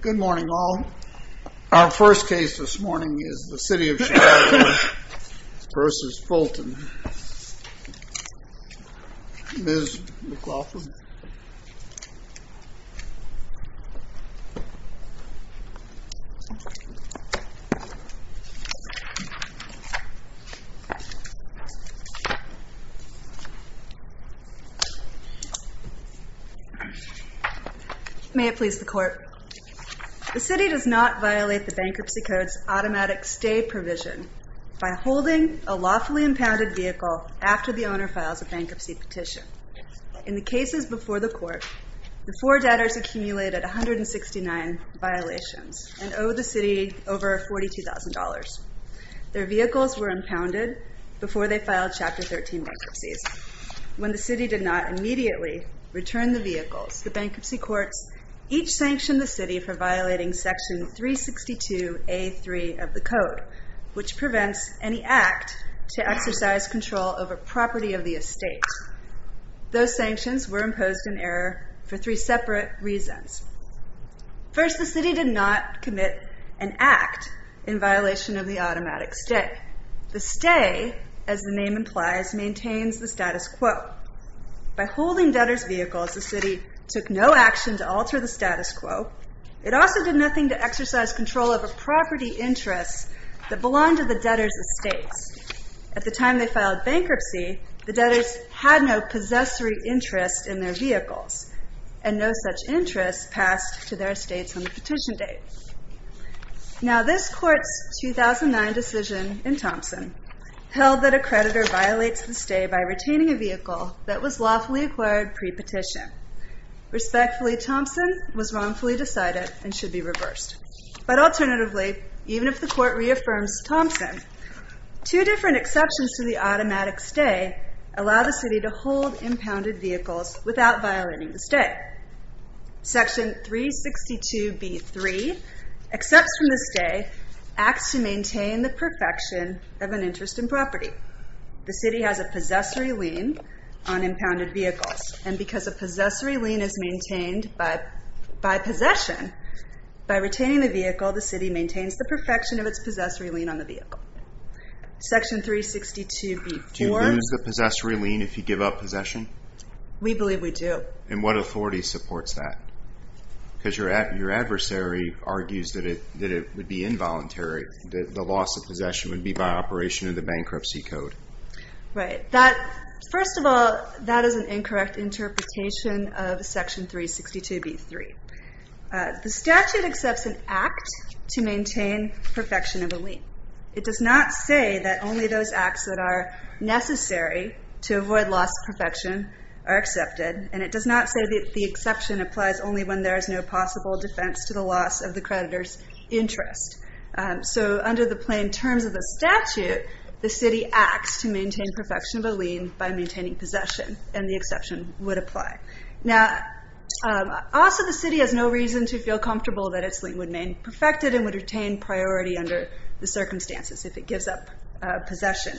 Good morning all. Our first case this morning is the City of Chicago v. Fulton. Ms. McLaughlin The City does not violate the Bankruptcy Code's automatic stay provision by holding a lawfully impounded vehicle after the owner files a bankruptcy petition. In the cases before the Court, the four debtors accumulated 169 violations and owe the City over $42,000. Their vehicles were impounded before they filed Chapter 13 bankruptcies. When the City did not immediately return the vehicles, the Bankruptcy Courts each sanctioned the City for violating Section 362A.3 of the Code, which prevents any act to exercise control over property of the estate. Those sanctions were imposed in error for three separate reasons. First, the City did not commit an act in violation of the automatic stay. The stay, as the name implies, maintains the status quo. By holding debtors' vehicles, the City took no action to alter the status quo. It also did nothing to exercise control over property interests that belonged to the debtors' estates. At the time they filed bankruptcy, the debtors had no possessory interest in their vehicles, and no such interest passed to their estates on the petition date. Now, this Court's 2009 decision in Thompson held that a creditor violates the stay by retaining a vehicle that was lawfully acquired pre-petition. Respectfully, Thompson was wrongfully decided and should be reversed. But alternatively, even if the Court reaffirms Thompson, two different exceptions to the automatic stay allow the City to hold impounded vehicles without violating the stay. Section 362B3, excepts from the stay, acts to maintain the perfection of an interest in property. The City has a possessory lien on impounded vehicles, and because a possessory lien is maintained by possession, by retaining the vehicle, the City maintains the perfection of its possessory lien on the vehicle. Section 362B4... Do you lose the possessory lien if you give up possession? We believe we do. And what authority supports that? Because your adversary argues that it would be involuntary, that the loss of possession would be by operation of the Bankruptcy Code. Right. First of all, that is an incorrect interpretation of Section 362B3. The statute accepts an act to maintain perfection of a lien. It does not say that only those acts that are necessary to avoid loss of perfection are accepted, and it does not say that the exception applies only when there is no possible defense to the loss of the creditor's interest. So under the plain terms of the statute, the City acts to maintain perfection of a lien by maintaining possession, and the exception would apply. Now, also the City has no reason to feel comfortable that its lien would remain perfected and would retain priority under the circumstances if it gives up possession.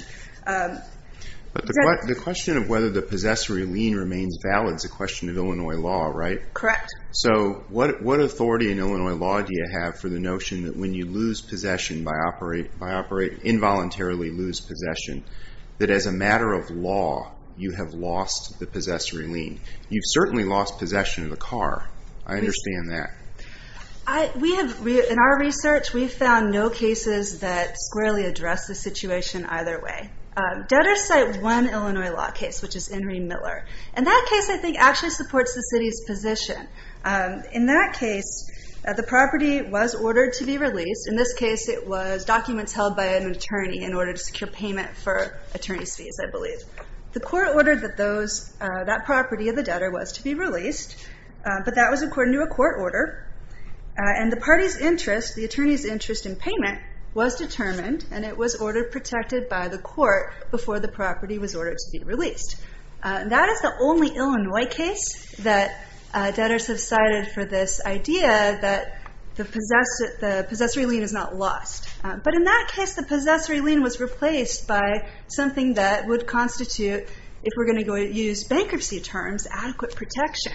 But the question of whether the possessory lien remains valid is a question of Illinois law, right? Correct. So what authority in Illinois law do you have for the notion that when you lose possession by operate, involuntarily lose possession, that as a matter of law, you have lost the possessory lien? You've certainly lost possession of the car. I understand that. In our research, we've found no cases that squarely address the situation either way. Debtors cite one Illinois law case, which is Henry Miller, and that case I think actually supports the City's position. In that case, the property was ordered to be released. In this case, it was documents held by an attorney in order to secure payment for attorney's fees, I believe. The court ordered that that property of the debtor was to be released, but that was according to a court order, and the party's interest, the attorney's interest in payment, was determined, and it was ordered protected by the court before the property was ordered to be released. That is the only Illinois case that debtors have cited for this idea that the possessory lien is not lost. But in that case, the possessory lien was replaced by something that would constitute, if we're going to use bankruptcy terms, adequate protection.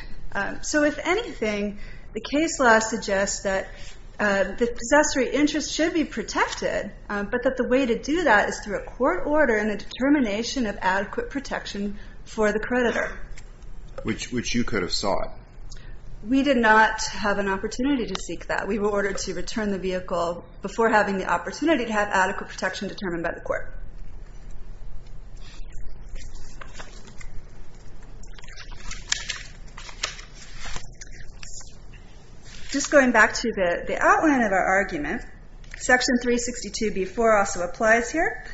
So if anything, the case law suggests that the possessory interest should be protected, but that the way to do that is through a court order and a determination of adequate protection for the creditor. Which you could have sought. We did not have an opportunity to seek that. We were ordered to return the vehicle before having the opportunity to have adequate protection determined by the court. Just going back to the outline of our argument, Section 362b-4 also applies here.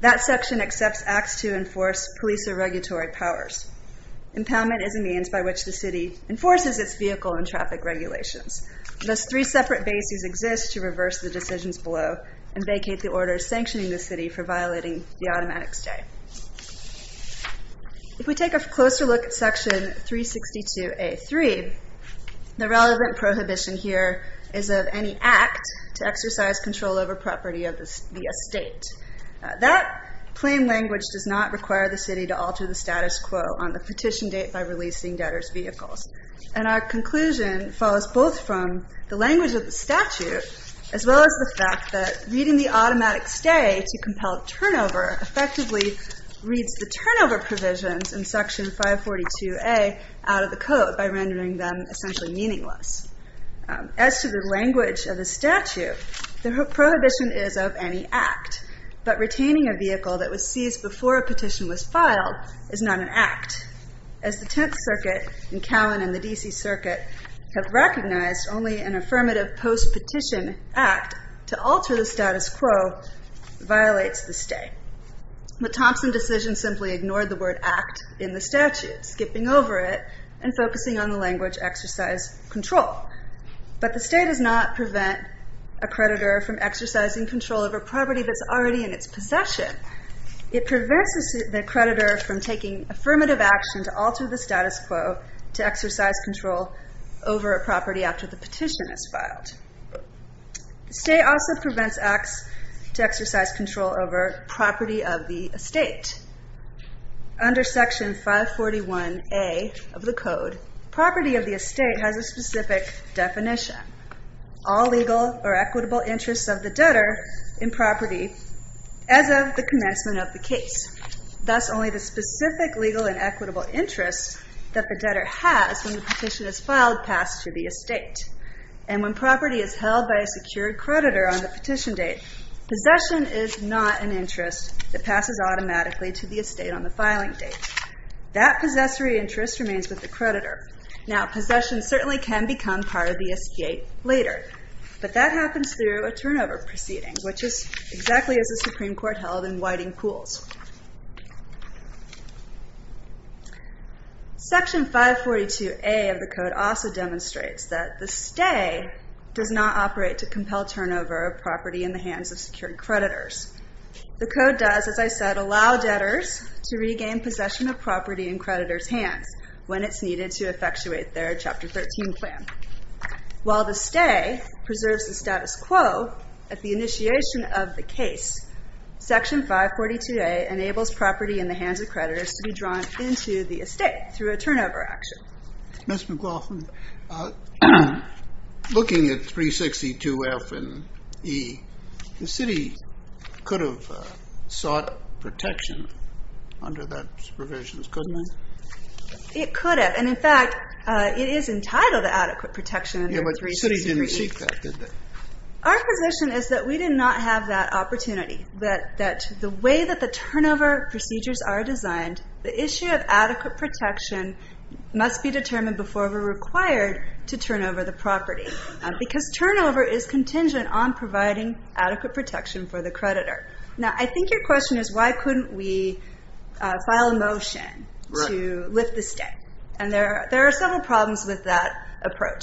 That section accepts acts to enforce police or regulatory powers. Impoundment is a means by which the city enforces its vehicle and traffic regulations. Thus, three separate bases exist to reverse the decisions below and vacate the orders sanctioning the city for violating the automatic stay. If we take a closer look at Section 362a-3, the relevant prohibition here is of any act to exercise control over property of the estate. That plain language does not require the city to alter the status quo on the petition date by releasing debtors' vehicles. And our conclusion follows both from the language of the statute, as well as the fact that reading the automatic stay to compel turnover effectively reads the turnover provisions in Section 542a out of the code by rendering them essentially meaningless. As to the language of the statute, the prohibition is of any act. But retaining a vehicle that was seized before a petition was filed is not an act. As the Tenth Circuit in Cowan and the D.C. Circuit have recognized, only an affirmative post-petition act to alter the status quo violates the stay. The Thompson decision simply ignored the word act in the statute, skipping over it and focusing on the language exercise control. But the stay does not prevent a creditor from exercising control over property that's already in its possession. It prevents the creditor from taking affirmative action to alter the status quo to exercise control over a property after the petition is filed. The stay also prevents acts to exercise control over property of the estate. Under Section 541a of the code, property of the estate has a specific definition. All legal or equitable interests of the debtor in property as of the commencement of the case. That's only the specific legal and equitable interest that the debtor has when the petition is filed passed to the estate. And when property is held by a secured creditor on the petition date, possession is not an interest that passes automatically to the estate on the filing date. That possessory interest remains with the creditor. Now, possession certainly can become part of the estate later, but that happens through a turnover proceeding, which is exactly as the Supreme Court held in Whiting Pools. Section 542a of the code also demonstrates that the stay does not operate to compel turnover of property in the hands of secured creditors. The code does, as I said, allow debtors to regain possession of property in creditors' hands when it's needed to effectuate their Chapter 13 plan. While the stay preserves the status quo at the initiation of the case, Section 542a enables property in the hands of creditors to be drawn into the estate through a turnover action. Ms. McLaughlin, looking at 362F and E, the city could have sought protection under those provisions, couldn't it? It could have. And, in fact, it is entitled to adequate protection under 362E. Yeah, but the city didn't receive that, did they? Our position is that we did not have that opportunity, that the way that the turnover procedures are designed, the issue of adequate protection must be determined before we're required to turn over the property, because turnover is contingent on providing adequate protection for the creditor. Now, I think your question is, why couldn't we file a motion to lift the stay? And there are several problems with that approach.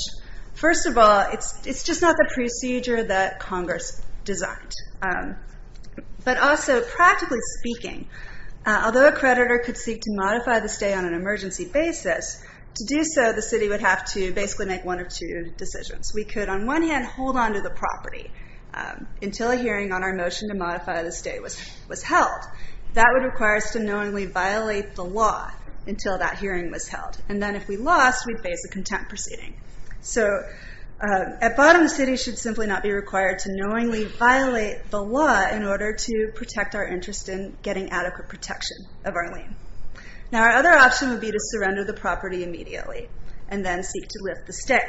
First of all, it's just not the procedure that Congress designed. But also, practically speaking, although a creditor could seek to modify the stay on an emergency basis, to do so, the city would have to basically make one of two decisions. We could, on one hand, hold onto the property until a hearing on our motion to modify the stay was held. That would require us to knowingly violate the law until that hearing was held. And then, if we lost, we'd face a contempt proceeding. So, at bottom, the city should simply not be required to knowingly violate the law in order to protect our interest in getting adequate protection of our lien. Now, our other option would be to surrender the property immediately and then seek to lift the stay.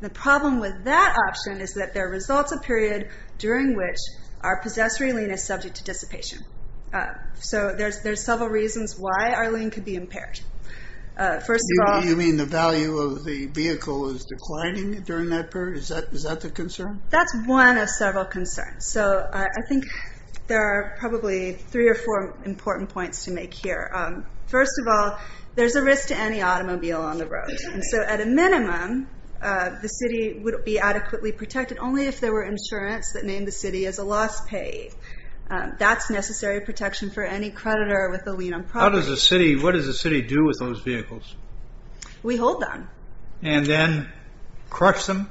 The problem with that option is that there results a period during which our possessory lien is subject to dissipation. So, there's several reasons why our lien could be impaired. First of all... You mean the value of the vehicle is declining during that period? Is that the concern? That's one of several concerns. So, I think there are probably three or four important points to make here. First of all, there's a risk to any automobile on the road. So, at a minimum, the city would be adequately protected only if there were insurance that named the city as a loss paid. That's necessary protection for any creditor with a lien on property. What does the city do with those vehicles? We hold them. And then crush them?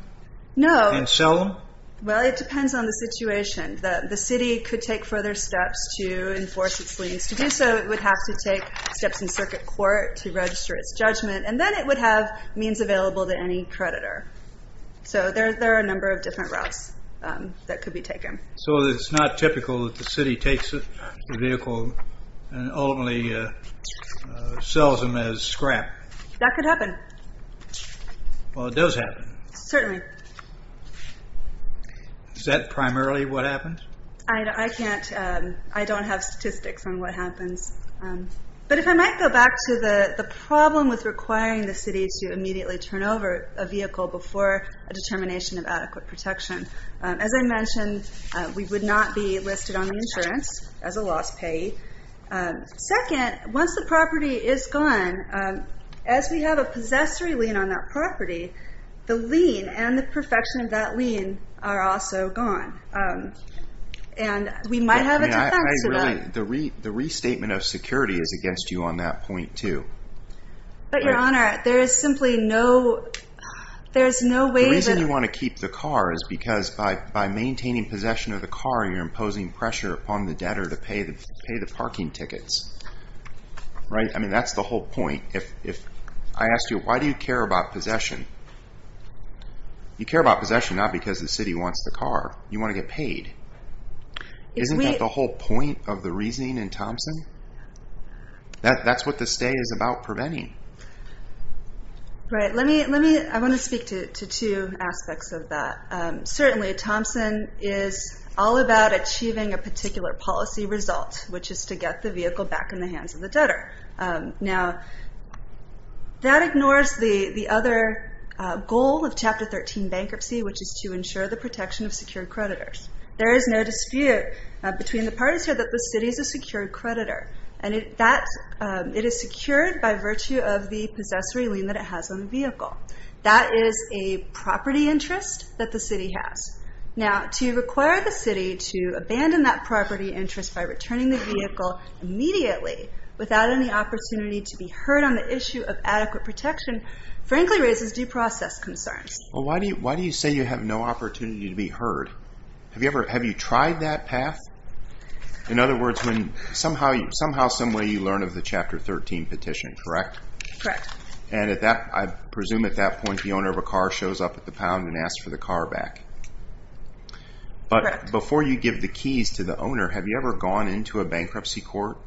No. And sell them? Well, it depends on the situation. The city could take further steps to enforce its liens. To do so, it would have to take steps in circuit court to register its judgment. And then it would have means available to any creditor. So, there are a number of different routes that could be taken. So, it's not typical that the city takes a vehicle and only sells them as scrap? That could happen. Well, it does happen. Certainly. Is that primarily what happens? I don't have statistics on what happens. But if I might go back to the problem with requiring the city to immediately turn over a vehicle before a determination of adequate protection. As I mentioned, we would not be listed on the insurance as a loss paid. Second, once the property is gone, as we have a possessory lien on that property, the lien and the perfection of that lien are also gone. And we might have a defect to that. The restatement of security is against you on that point, too. But, Your Honor, there is simply no way that... The reason you want to keep the car is because by maintaining possession of the car, you're imposing pressure upon the debtor to pay the parking tickets. I mean, that's the whole point. I asked you, why do you care about possession? You care about possession not because the city wants the car. You want to get paid. Isn't that the whole point of the reasoning in Thompson? That's what the stay is about, preventing. Right. Let me... I want to speak to two aspects of that. Certainly, Thompson is all about achieving a particular policy result, which is to get the vehicle back in the hands of the debtor. Now, that ignores the other goal of Chapter 13 bankruptcy, which is to ensure the protection of secured creditors. There is no dispute between the parties here that the city is a secured creditor. And it is secured by virtue of the possessory lien that it has on the vehicle. That is a property interest that the city has. Now, to require the city to abandon that property interest by returning the vehicle immediately, without any opportunity to be heard on the issue of adequate protection, frankly raises due process concerns. Well, why do you say you have no opportunity to be heard? Have you tried that path? In other words, somehow some way you learn of the Chapter 13 petition, correct? Correct. And I presume at that point the owner of a car shows up at the pound and asks for the car back. Correct. But before you give the keys to the owner, have you ever gone into a bankruptcy court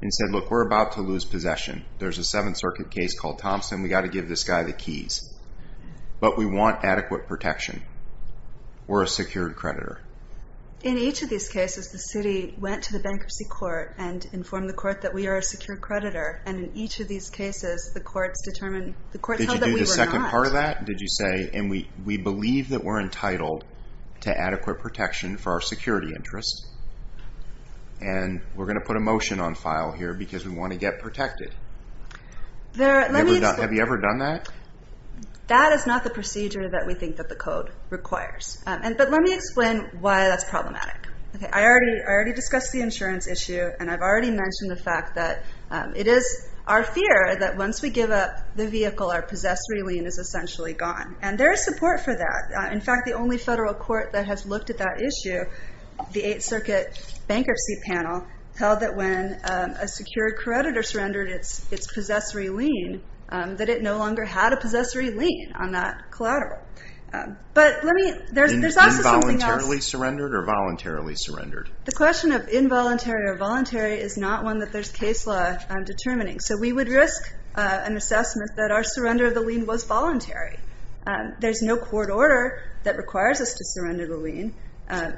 and said, look, we're about to lose possession. There's a Seventh Circuit case called Thompson. We've got to give this guy the keys. But we want adequate protection. We're a secured creditor. In each of these cases, the city went to the bankruptcy court and informed the court that we are a secured creditor. And in each of these cases, the courts determined that we were not. Did you do the second part of that? Did you say, and we believe that we're entitled to adequate protection for our security interests. And we're going to put a motion on file here because we want to get protected. Have you ever done that? That is not the procedure that we think that the code requires. But let me explain why that's problematic. I already discussed the insurance issue, and I've already mentioned the fact that it is our fear that once we give up the vehicle, our possessory lien is essentially gone. And there is support for that. In fact, the only federal court that has looked at that issue, the Eighth Circuit Bankruptcy Panel, held that when a secured creditor surrendered its possessory lien, that it no longer had a possessory lien on that collateral. But let me, there's also something else. Involuntarily surrendered or voluntarily surrendered? The question of involuntary or voluntary is not one that there's case law determining. So we would risk an assessment that our surrender of the lien was voluntary. There's no court order that requires us to surrender the lien.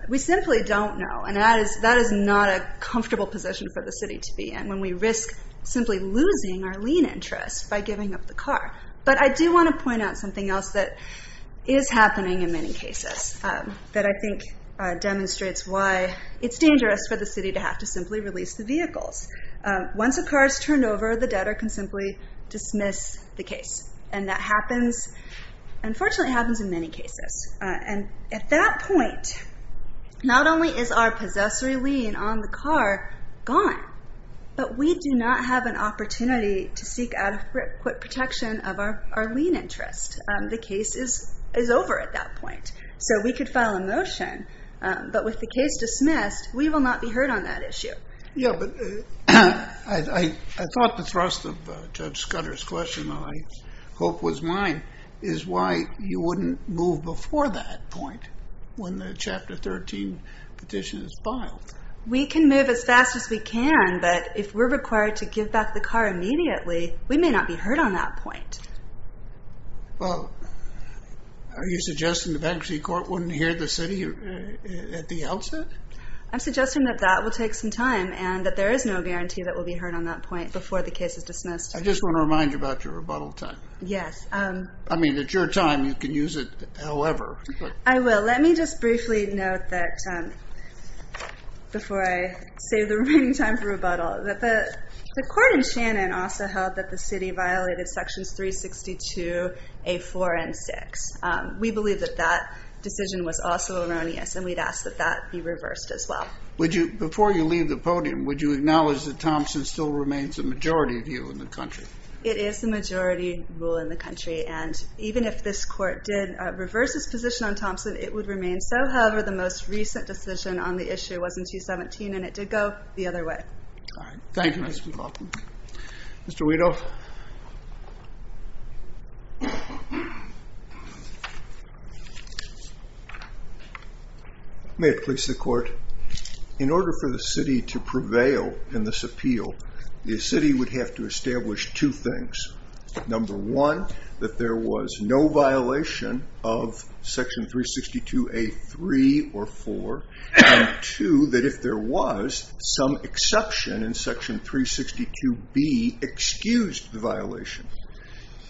We simply don't know, and that is not a comfortable position for the city to be in when we risk simply losing our lien interest by giving up the car. But I do want to point out something else that is happening in many cases that I think demonstrates why it's dangerous for the city to have to simply release the vehicles. Once a car is turned over, the debtor can simply dismiss the case. And that happens, unfortunately happens in many cases. And at that point, not only is our possessory lien on the car gone, but we do not have an opportunity to seek adequate protection of our lien interest. The case is over at that point. So we could file a motion, but with the case dismissed, we will not be heard on that issue. Yeah, but I thought the thrust of Judge Scudder's question, which I hope was mine, is why you wouldn't move before that point when the Chapter 13 petition is filed. We can move as fast as we can, but if we're required to give back the car immediately, we may not be heard on that point. Well, are you suggesting the bankruptcy court wouldn't hear the city at the outset? I'm suggesting that that will take some time and that there is no guarantee that we'll be heard on that point before the case is dismissed. I just want to remind you about your rebuttal time. Yes. I mean, it's your time. You can use it however. I will. Let me just briefly note that, before I save the remaining time for rebuttal, that the court in Shannon also held that the city violated Sections 362a.4 and 6. We believe that that decision was also erroneous, and we'd ask that that be reversed as well. Before you leave the podium, would you acknowledge that Thompson still remains the majority view in the country? It is the majority rule in the country, and even if this Court did reverse its position on Thompson, it would remain so. However, the most recent decision on the issue was in 217, and it did go the other way. All right. Thank you, Ms. McLaughlin. Mr. Weedle? May it please the Court? In order for the city to prevail in this appeal, the city would have to establish two things. Number one, that there was no violation of Section 362a.3 or 4, and two, that if there was, some exception in Section 362b excused the violation.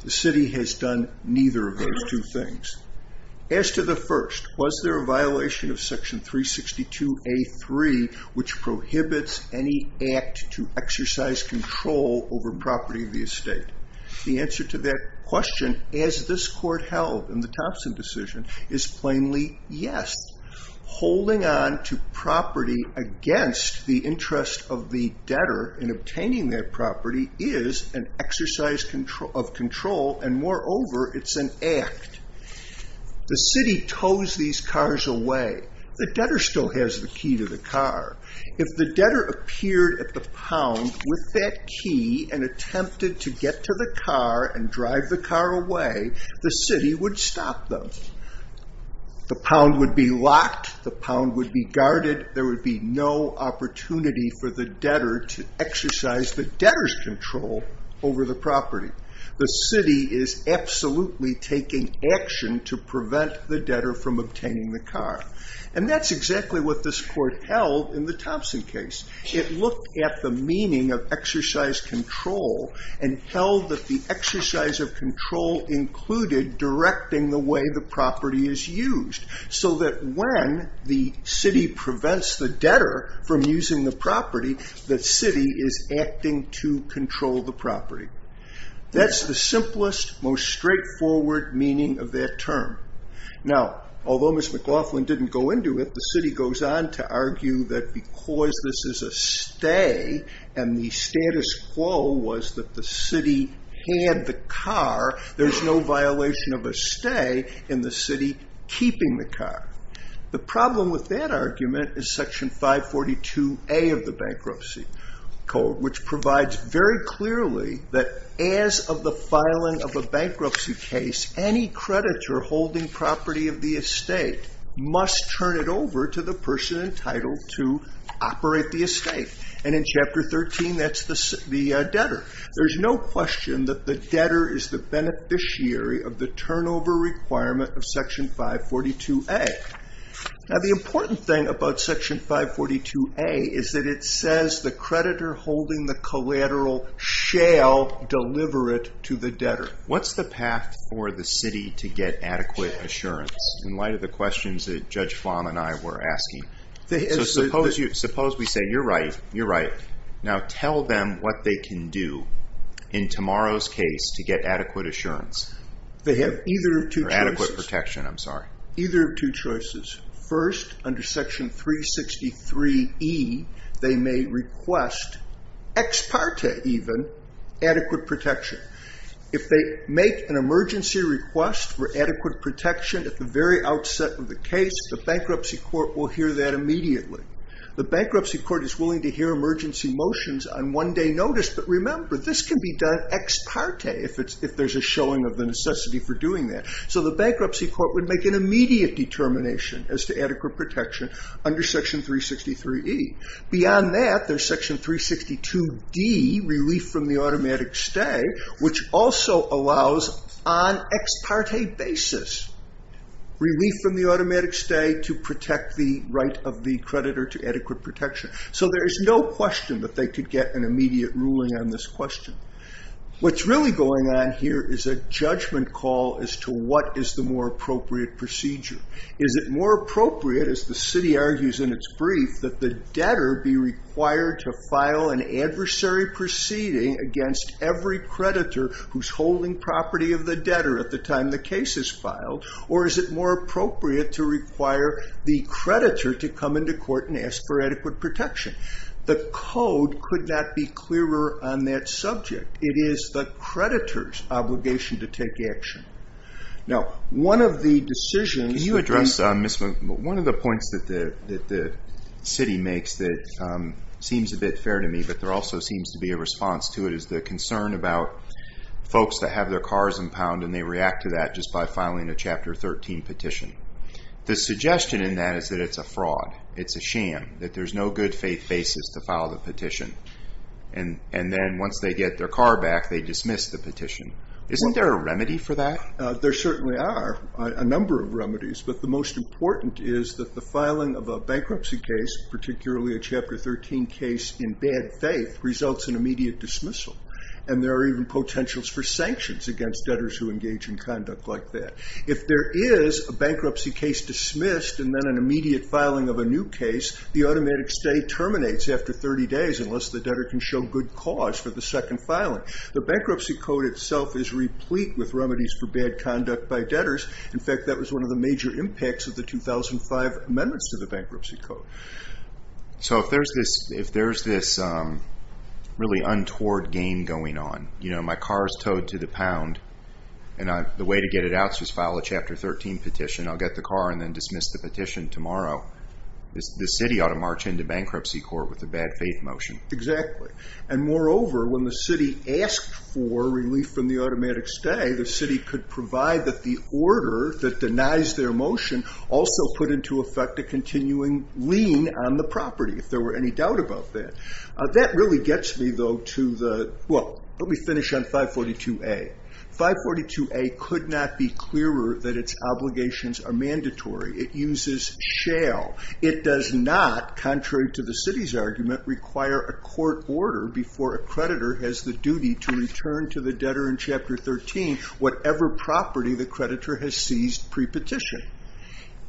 The city has done neither of those two things. As to the first, was there a violation of Section 362a.3, which prohibits any act to exercise control over property of the estate? The answer to that question, as this Court held in the Thompson decision, is plainly yes. Holding on to property against the interest of the debtor in obtaining that property is an exercise of control, and moreover, it's an act. The city tows these cars away. The debtor still has the key to the car. If the debtor appeared at the pound with that key and attempted to get to the car and drive the car away, the city would stop them. The pound would be locked. The pound would be guarded. There would be no opportunity for the debtor to exercise the debtor's control over the property. The city is absolutely taking action to prevent the debtor from obtaining the car. That's exactly what this Court held in the Thompson case. It looked at the meaning of exercise control and held that the exercise of control included directing the way the property is used so that when the city prevents the debtor from using the property, the city is acting to control the property. That's the simplest, most straightforward meaning of that term. Although Ms. McLaughlin didn't go into it, the city goes on to argue that because this is a stay and the status quo was that the city had the car, there's no violation of a stay in the city keeping the car. The problem with that argument is Section 542A of the Bankruptcy Code, which provides very clearly that as of the filing of a bankruptcy case, any creditor holding property of the estate must turn it over to the person entitled to operate the estate. In Chapter 13, that's the debtor. There's no question that the debtor is the beneficiary of the turnover requirement of Section 542A. The important thing about Section 542A is that it says the creditor holding the collateral shall deliver it to the debtor. What's the path for the city to get adequate assurance in light of the questions that Judge Flan and I were asking? Suppose we say, you're right, you're right. Now tell them what they can do in tomorrow's case to get adequate assurance. They have either of two choices. Or adequate protection, I'm sorry. Either of two choices. First, under Section 363E, they may request, ex parte even, adequate protection. If they make an emergency request for adequate protection at the very outset of the case, the bankruptcy court will hear that immediately. The bankruptcy court is willing to hear emergency motions on one day notice. But remember, this can be done ex parte if there's a showing of the necessity for doing that. So the bankruptcy court would make an immediate determination as to adequate protection under Section 363E. Beyond that, there's Section 362D, relief from the automatic stay, which also allows on ex parte basis relief from the automatic stay to protect the right of the creditor to adequate protection. So there is no question that they could get an immediate ruling on this question. What's really going on here is a judgment call as to what is the more appropriate procedure. Is it more appropriate, as the city argues in its brief, that the debtor be required to file an adversary proceeding against every creditor who's holding property of the debtor at the time the case is filed? Or is it more appropriate to require the creditor to come into court and ask for adequate protection? The code could not be clearer on that subject. It is the creditor's obligation to take action. Now, one of the decisions... Can you address one of the points that the city makes that seems a bit fair to me, but there also seems to be a response to it, is the concern about folks that have their cars impounded, and they react to that just by filing a Chapter 13 petition. The suggestion in that is that it's a fraud, it's a sham, that there's no good faith basis to file the petition. And then once they get their car back, they dismiss the petition. Isn't there a remedy for that? There certainly are a number of remedies, but the most important is that the filing of a bankruptcy case, particularly a Chapter 13 case in bad faith, results in immediate dismissal. And there are even potentials for sanctions against debtors who engage in conduct like that. If there is a bankruptcy case dismissed, and then an immediate filing of a new case, the automatic stay terminates after 30 days, unless the debtor can show good cause for the second filing. The bankruptcy code itself is replete with remedies for bad conduct by debtors. In fact, that was one of the major impacts of the 2005 amendments to the bankruptcy code. So if there's this really untoward game going on, you know, my car is towed to the pound, and the way to get it out is to file a Chapter 13 petition, I'll get the car and then dismiss the petition tomorrow, the city ought to march into bankruptcy court with a bad faith motion. Exactly. And moreover, when the city asked for relief from the automatic stay, the city could provide that the order that denies their motion also put into effect a continuing lien on the property, if there were any doubt about that. That really gets me, though, to the, well, let me finish on 542A. 542A could not be clearer that its obligations are mandatory. It uses shall. It does not, contrary to the city's argument, require a court order before a creditor has the duty to return to the debtor in Chapter 13 whatever property the creditor has seized pre-petition.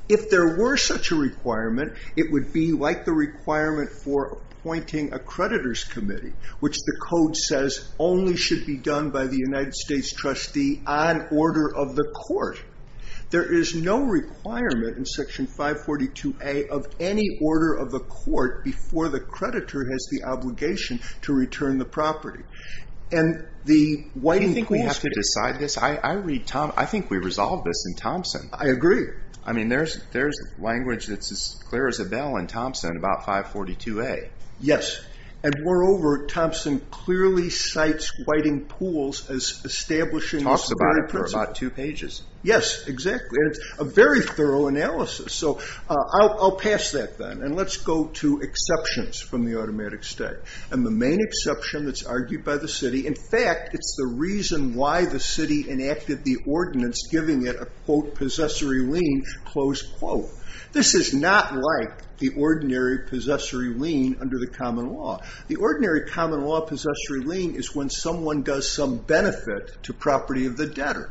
If there were such a requirement, it would be like the requirement for appointing a creditor's committee, which the code says only should be done by the United States trustee on order of the court. There is no requirement in Section 542A of any order of the court before the creditor has the obligation to return the property. And the whiting pools... Do you think we have to decide this? I think we resolved this in Thompson. I agree. I mean, there's language that's as clear as a bell in Thompson about 542A. Yes. And moreover, Thompson clearly cites whiting pools as establishing... Yes, exactly. And it's a very thorough analysis. So I'll pass that then. And let's go to exceptions from the automatic state. And the main exception that's argued by the city, in fact, it's the reason why the city enacted the ordinance giving it a, quote, possessory lien, close quote. This is not like the ordinary possessory lien under the common law. The ordinary common law possessory lien is when someone does some benefit to property of the debtor.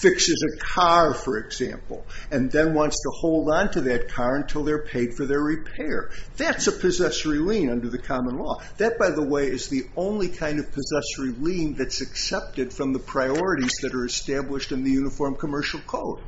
Fixes a car, for example, and then wants to hold on to that car until they're paid for their repair. That's a possessory lien under the common law. That, by the way, is the only kind of possessory lien that's accepted from the priorities that are established in the Uniform Commercial Code.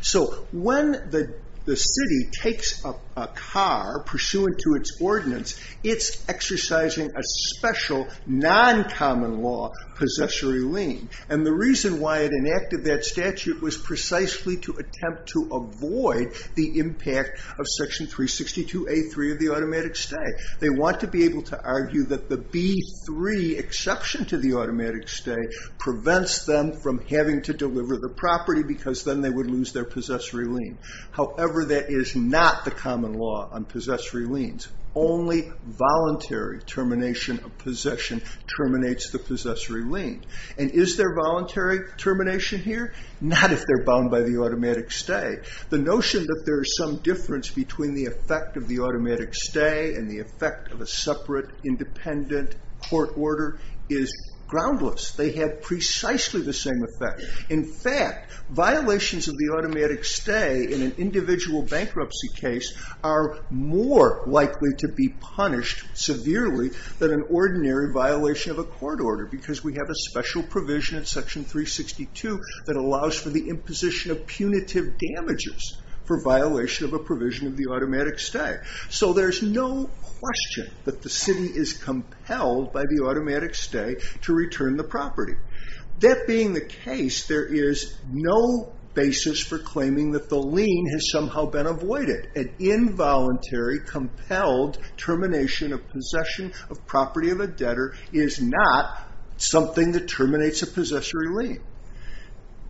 So when the city takes a car pursuant to its ordinance, it's exercising a special non-common law possessory lien. And the reason why it enacted that statute was precisely to attempt to avoid the impact of Section 362A3 of the automatic stay. They want to be able to argue that the B3 exception to the automatic stay prevents them from having to deliver the property because then they would lose their possessory lien. However, that is not the common law on possessory liens. Only voluntary termination of possession terminates the possessory lien. And is there voluntary termination here? Not if they're bound by the automatic stay. The notion that there is some difference between the effect of the automatic stay and the effect of a separate independent court order is groundless. They have precisely the same effect. In fact, violations of the automatic stay in an individual bankruptcy case are more likely to be punished severely than an ordinary violation of a court order because we have a special provision in Section 362 that allows for the imposition of punitive damages for violation of a provision of the automatic stay. So there's no question that the city is compelled by the automatic stay to return the property. That being the case, there is no basis for claiming that the lien has somehow been avoided. An involuntary, compelled termination of possession of property of a debtor is not something that terminates a possessory lien.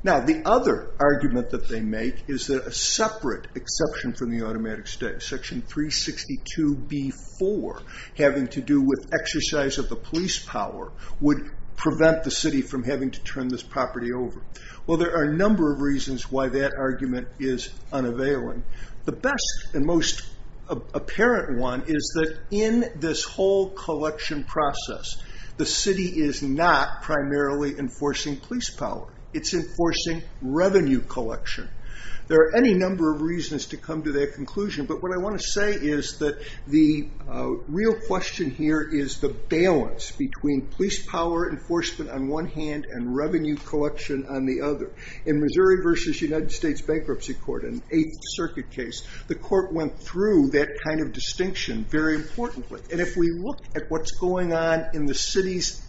Now, the other argument that they make is that a separate exception from the automatic stay, Section 362b-4, having to do with exercise of the police power, would prevent the city from having to turn this property over. Well, there are a number of reasons why that argument is unavailing. The best and most apparent one is that in this whole collection process, the city is not primarily enforcing police power. It's enforcing revenue collection. There are any number of reasons to come to that conclusion. But what I want to say is that the real question here is the balance between police power enforcement on one hand and revenue collection on the other. In Missouri v. United States Bankruptcy Court, an Eighth Circuit case, the court went through that kind of distinction very importantly. And if we look at what's going on in the city's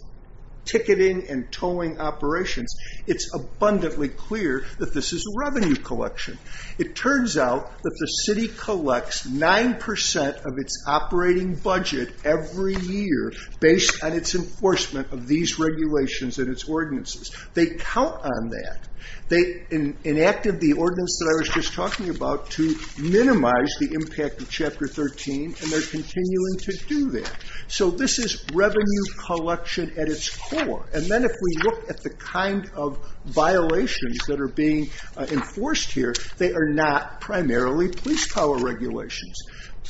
ticketing and towing operations, it's abundantly clear that this is a revenue collection. It turns out that the city collects 9% of its operating budget every year based on its enforcement of these regulations and its ordinances. They count on that. They enacted the ordinance that I was just talking about to minimize the impact of Chapter 13. And they're continuing to do that. So this is revenue collection at its core. And then if we look at the kind of violations that are being enforced here, they are not primarily police power regulations.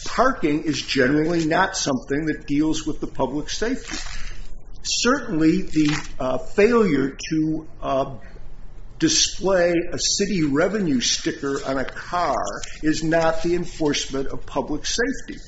Parking is generally not something that deals with the public safety. Certainly, the failure to display a city revenue sticker on a car is not the enforcement of public safety.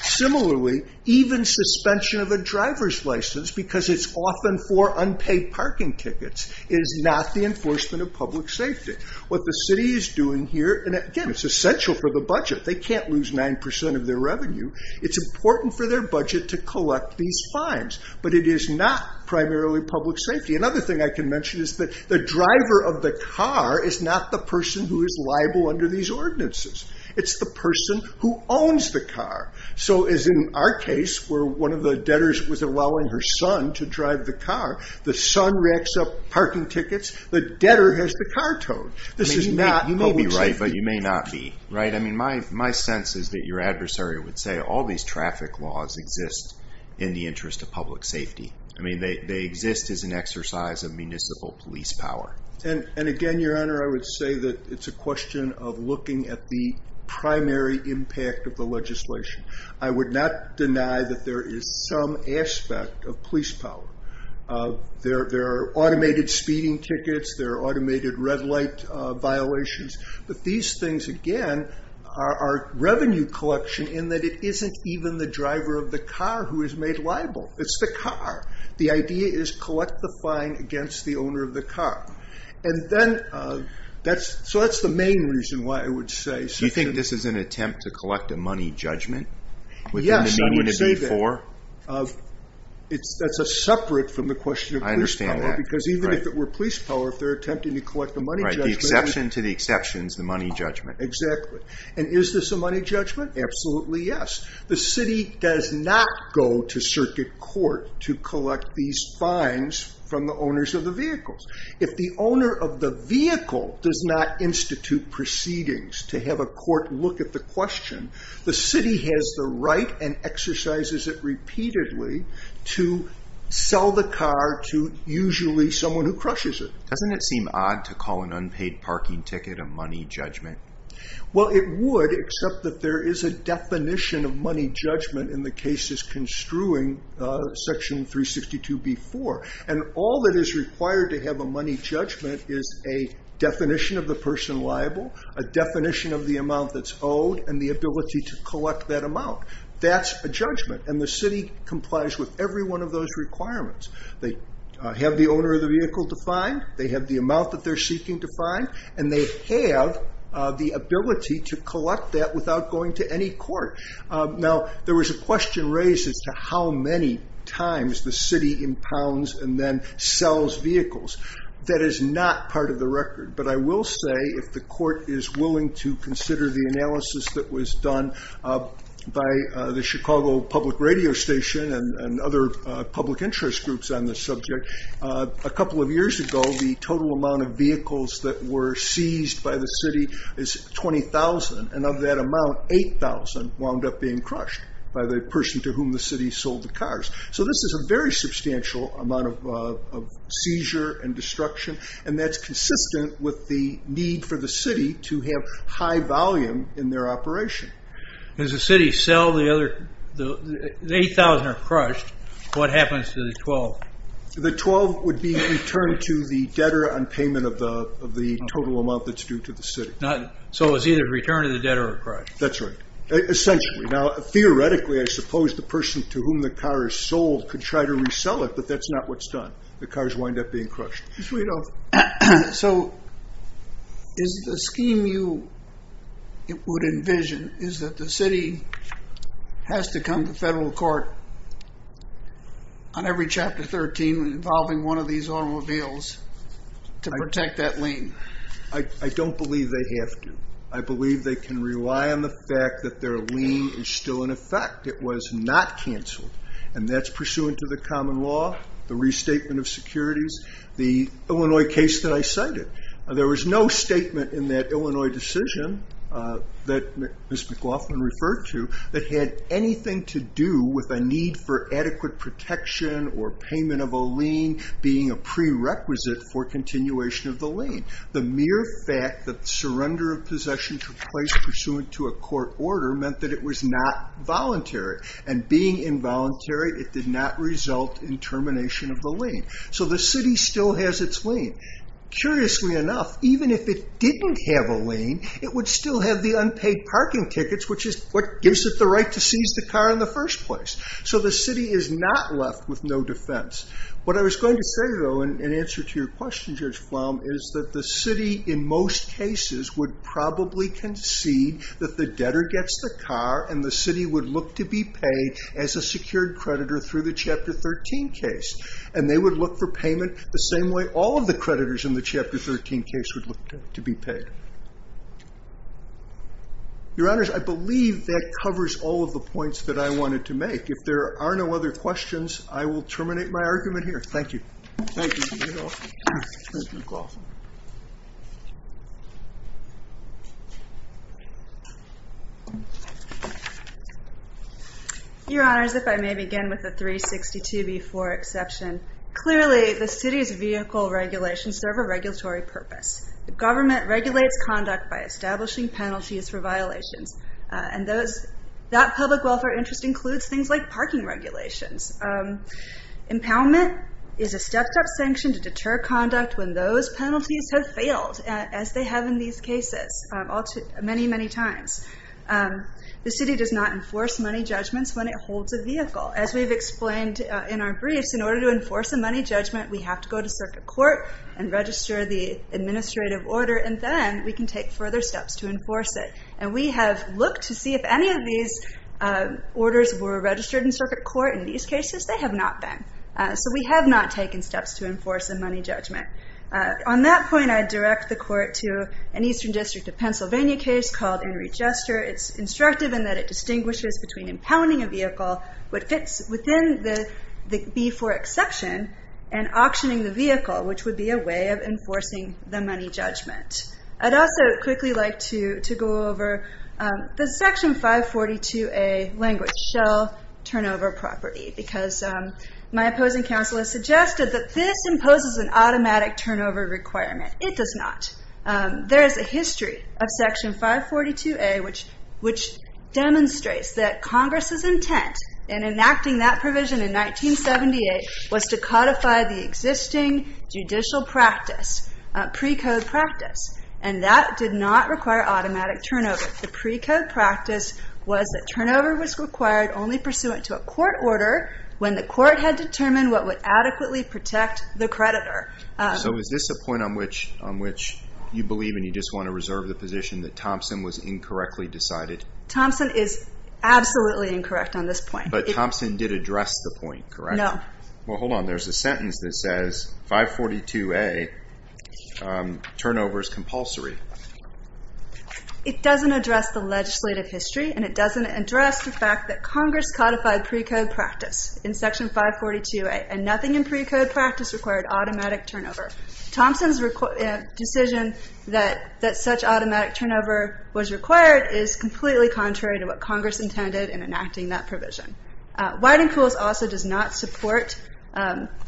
Similarly, even suspension of a driver's license, because it's often for unpaid parking tickets, is not the enforcement of public safety. What the city is doing here, and again, it's essential for the budget. They can't lose 9% of their revenue. It's important for their budget to collect these fines. But it is not primarily public safety. Another thing I can mention is that the driver of the car is not the person who is liable under these ordinances. It's the person who owns the car. So as in our case, where one of the debtors was allowing her son to drive the car, the son racks up parking tickets. The debtor has the car towed. This is not public safety. You may be right, but you may not be. My sense is that your adversary would say all these traffic laws exist in the interest of public safety. They exist as an exercise of municipal police power. And again, your honor, I would say that it's a question of looking at the primary impact of the legislation. I would not deny that there is some aspect of police power. There are automated speeding tickets. There are automated red light violations. But these things, again, are revenue collection in that it isn't even the driver of the car who is made liable. It's the car. The idea is collect the fine against the owner of the car. So that's the main reason why I would say. Do you think this is an attempt to collect a money judgment? Yes, I would say that. That's separate from the question of police power. I understand that. Because even if it were police power, if they're attempting to collect a money judgment. The exception to the exception is the money judgment. Exactly. And is this a money judgment? Absolutely, yes. The city does not go to circuit court to collect these fines from the owners of the vehicles. If the owner of the vehicle does not institute proceedings to have a court look at the question, the city has the right and exercises it repeatedly to sell the car to usually someone who crushes it. Doesn't it seem odd to call an unpaid parking ticket a money judgment? Well, it would. Except that there is a definition of money judgment in the cases construing section 362b-4. And all that is required to have a money judgment is a definition of the person liable, a definition of the amount that's owed, and the ability to collect that amount. That's a judgment. And the city complies with every one of those requirements. They have the owner of the vehicle defined. They have the amount that they're seeking defined. And they have the ability to collect that without going to any court. Now, there was a question raised as to how many times the city impounds and then sells vehicles. That is not part of the record. But I will say, if the court is willing to consider the analysis that was done by the Chicago Public Radio Station and other public interest groups on this subject, a couple of years ago, the total amount of vehicles that were seized by the city is 20,000. And of that amount, 8,000 wound up being crushed by the person to whom the city sold the cars. So this is a very substantial amount of seizure and destruction. And that's consistent with the need for the city to have high volume in their operation. If the city sells the other 8,000 or crushed, what happens to the 12? The 12 would be returned to the debtor on payment of the total amount that's due to the city. So it's either return to the debtor or crushed. That's right. Essentially. Now, theoretically, I suppose the person to whom the car is sold could try to resell it, but that's not what's done. The cars wind up being crushed. So is the scheme you would envision, is that the city has to come to federal court on every Chapter 13 involving one of these automobiles to protect that lien? I don't believe they have to. I believe they can rely on the fact that their lien is still in effect. It was not canceled. And that's pursuant to the common law, the restatement of securities, the Illinois case that I cited. There was no statement in that Illinois decision that Ms. McLaughlin referred to that had anything to do with a need for adequate protection or payment of a lien being a prerequisite for continuation of the lien. The mere fact that surrender of possession took place pursuant to a court order meant that it was not voluntary. And being involuntary, it did not result in termination of the lien. So the city still has its lien. Curiously enough, even if it didn't have a lien, it would still have the unpaid parking tickets, which gives it the right to seize the car in the first place. So the city is not left with no defense. What I was going to say, though, in answer to your question, Judge Flom, is that the city in most cases would probably concede that the debtor gets the car, and the city would look to be paid as a secured creditor through the Chapter 13 case. And they would look for payment the same way all of the creditors in the Chapter 13 case would look to be paid. Your Honors, I believe that covers all of the points that I wanted to make. If there are no other questions, I will terminate my argument here. Thank you. Your Honors, if I may begin with the 362b4 exception. Clearly, the city's vehicle regulations serve a regulatory purpose. The government regulates conduct by establishing penalties for violations. And that public welfare interest includes things like parking regulations. Impoundment is a stepped-up sanction to deter conduct when those penalties have failed, as they have in these cases many, many times. The city does not enforce money judgments when it holds a vehicle. As we've explained in our briefs, in order to enforce a money judgment, we have to go to Circuit Court and register the administrative order. And then we can take further steps to enforce it. And we have looked to see if any of these orders were registered in Circuit Court. In these cases, they have not been. So we have not taken steps to enforce a money judgment. On that point, I direct the Court to an Eastern District of Pennsylvania case called In Regester. It's instructive in that it distinguishes between impounding a vehicle within the B-4 exception and auctioning the vehicle, which would be a way of enforcing the money judgment. I'd also quickly like to go over the Section 542A language, Shell Turnover Property, because my opposing counsel has suggested that this imposes an automatic turnover requirement. It does not. There is a history of Section 542A which demonstrates that Congress's intent in enacting that provision in 1978 was to codify the existing judicial practice, precode practice, and that did not require automatic turnover. The precode practice was that turnover was required only pursuant to a court order when the court had determined what would adequately protect the creditor. So is this a point on which you believe and you just want to reserve the position that Thompson was incorrectly decided? Thompson is absolutely incorrect on this point. But Thompson did address the point, correct? No. Well, hold on. There's a sentence that says 542A turnover is compulsory. It doesn't address the legislative history and it doesn't address the fact that Congress codified precode practice in Section 542A and nothing in precode practice required automatic turnover. Thompson's decision that such automatic turnover was required is completely contrary to what Congress intended in enacting that provision. Whitingpools also does not support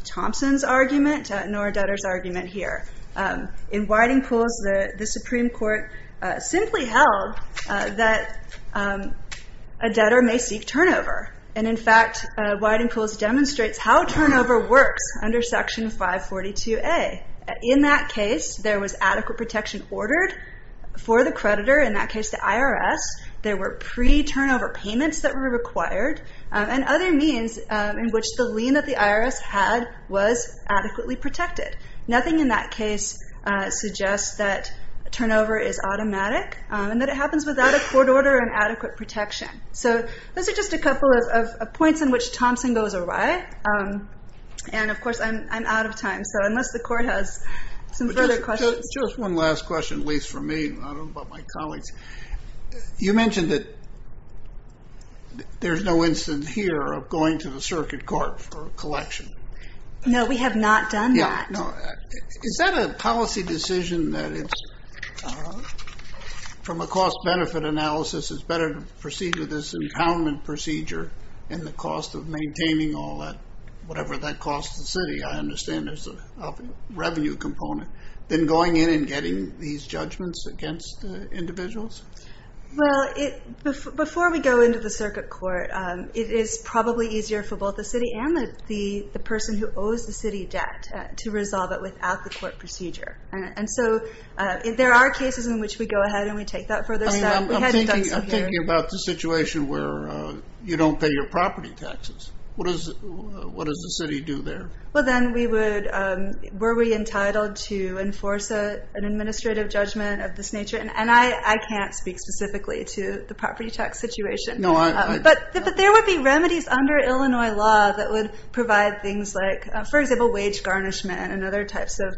Thompson's argument nor Detter's argument here. In Whitingpools, the Supreme Court simply held that a debtor may seek turnover and in fact, Whitingpools demonstrates how turnover works under Section 542A. In that case, there was adequate protection ordered for the creditor. In that case, the IRS, there were pre-turnover payments that were required and other means in which the lien that the IRS had was adequately protected. Nothing in that case suggests that turnover is automatic and that it happens without a court order and adequate protection. So those are just a couple of points in which Thompson goes awry and of course, I'm out of time so unless the court has some further questions. Just one last question, at least for me. I don't know about my colleagues. You mentioned that there's no instance here of going to the circuit court for a collection. No, we have not done that. Is that a policy decision that it's from a cost-benefit analysis it's better to proceed with this impoundment procedure and the cost of maintaining all that whatever that costs the city. I understand there's a revenue component. Then going in and getting these judgments against individuals? Well, before we go into the circuit court it is probably easier for both the city and the person who owes the city debt to resolve it without the court procedure. And so, there are cases in which we go ahead and we take that further step. I'm thinking about the situation where you don't pay your property taxes. What does the city do there? Well, then we would were we entitled to enforce an administrative judgment of this nature? And I can't speak specifically to the property tax situation. But there would be remedies under Illinois law that would provide things like for example, wage garnishment and other types of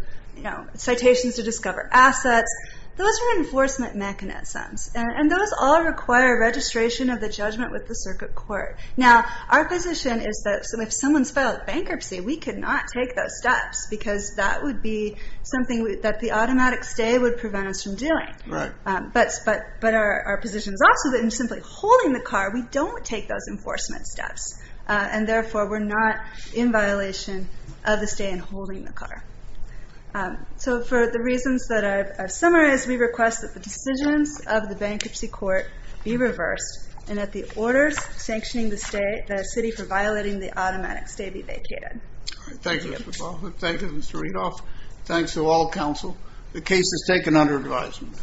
citations to discover assets. Those are enforcement mechanisms. And those all require registration of the judgment with the circuit court. Now, our position is that if someone's filed bankruptcy we could not take those steps because that would be something that the automatic stay would prevent us from doing. But our position is also that in simply holding the car we don't take those enforcement steps. And therefore, we're not in violation of the stay in holding the car. So, for the reasons that I've summarized we request that the decisions of the bankruptcy court be reversed and that the orders sanctioning the city for violating the automatic stay be vacated. Thank you, Mr. Baldwin. Thank you, Mr. Redoff. Thanks to all counsel. The case is taken under advisement.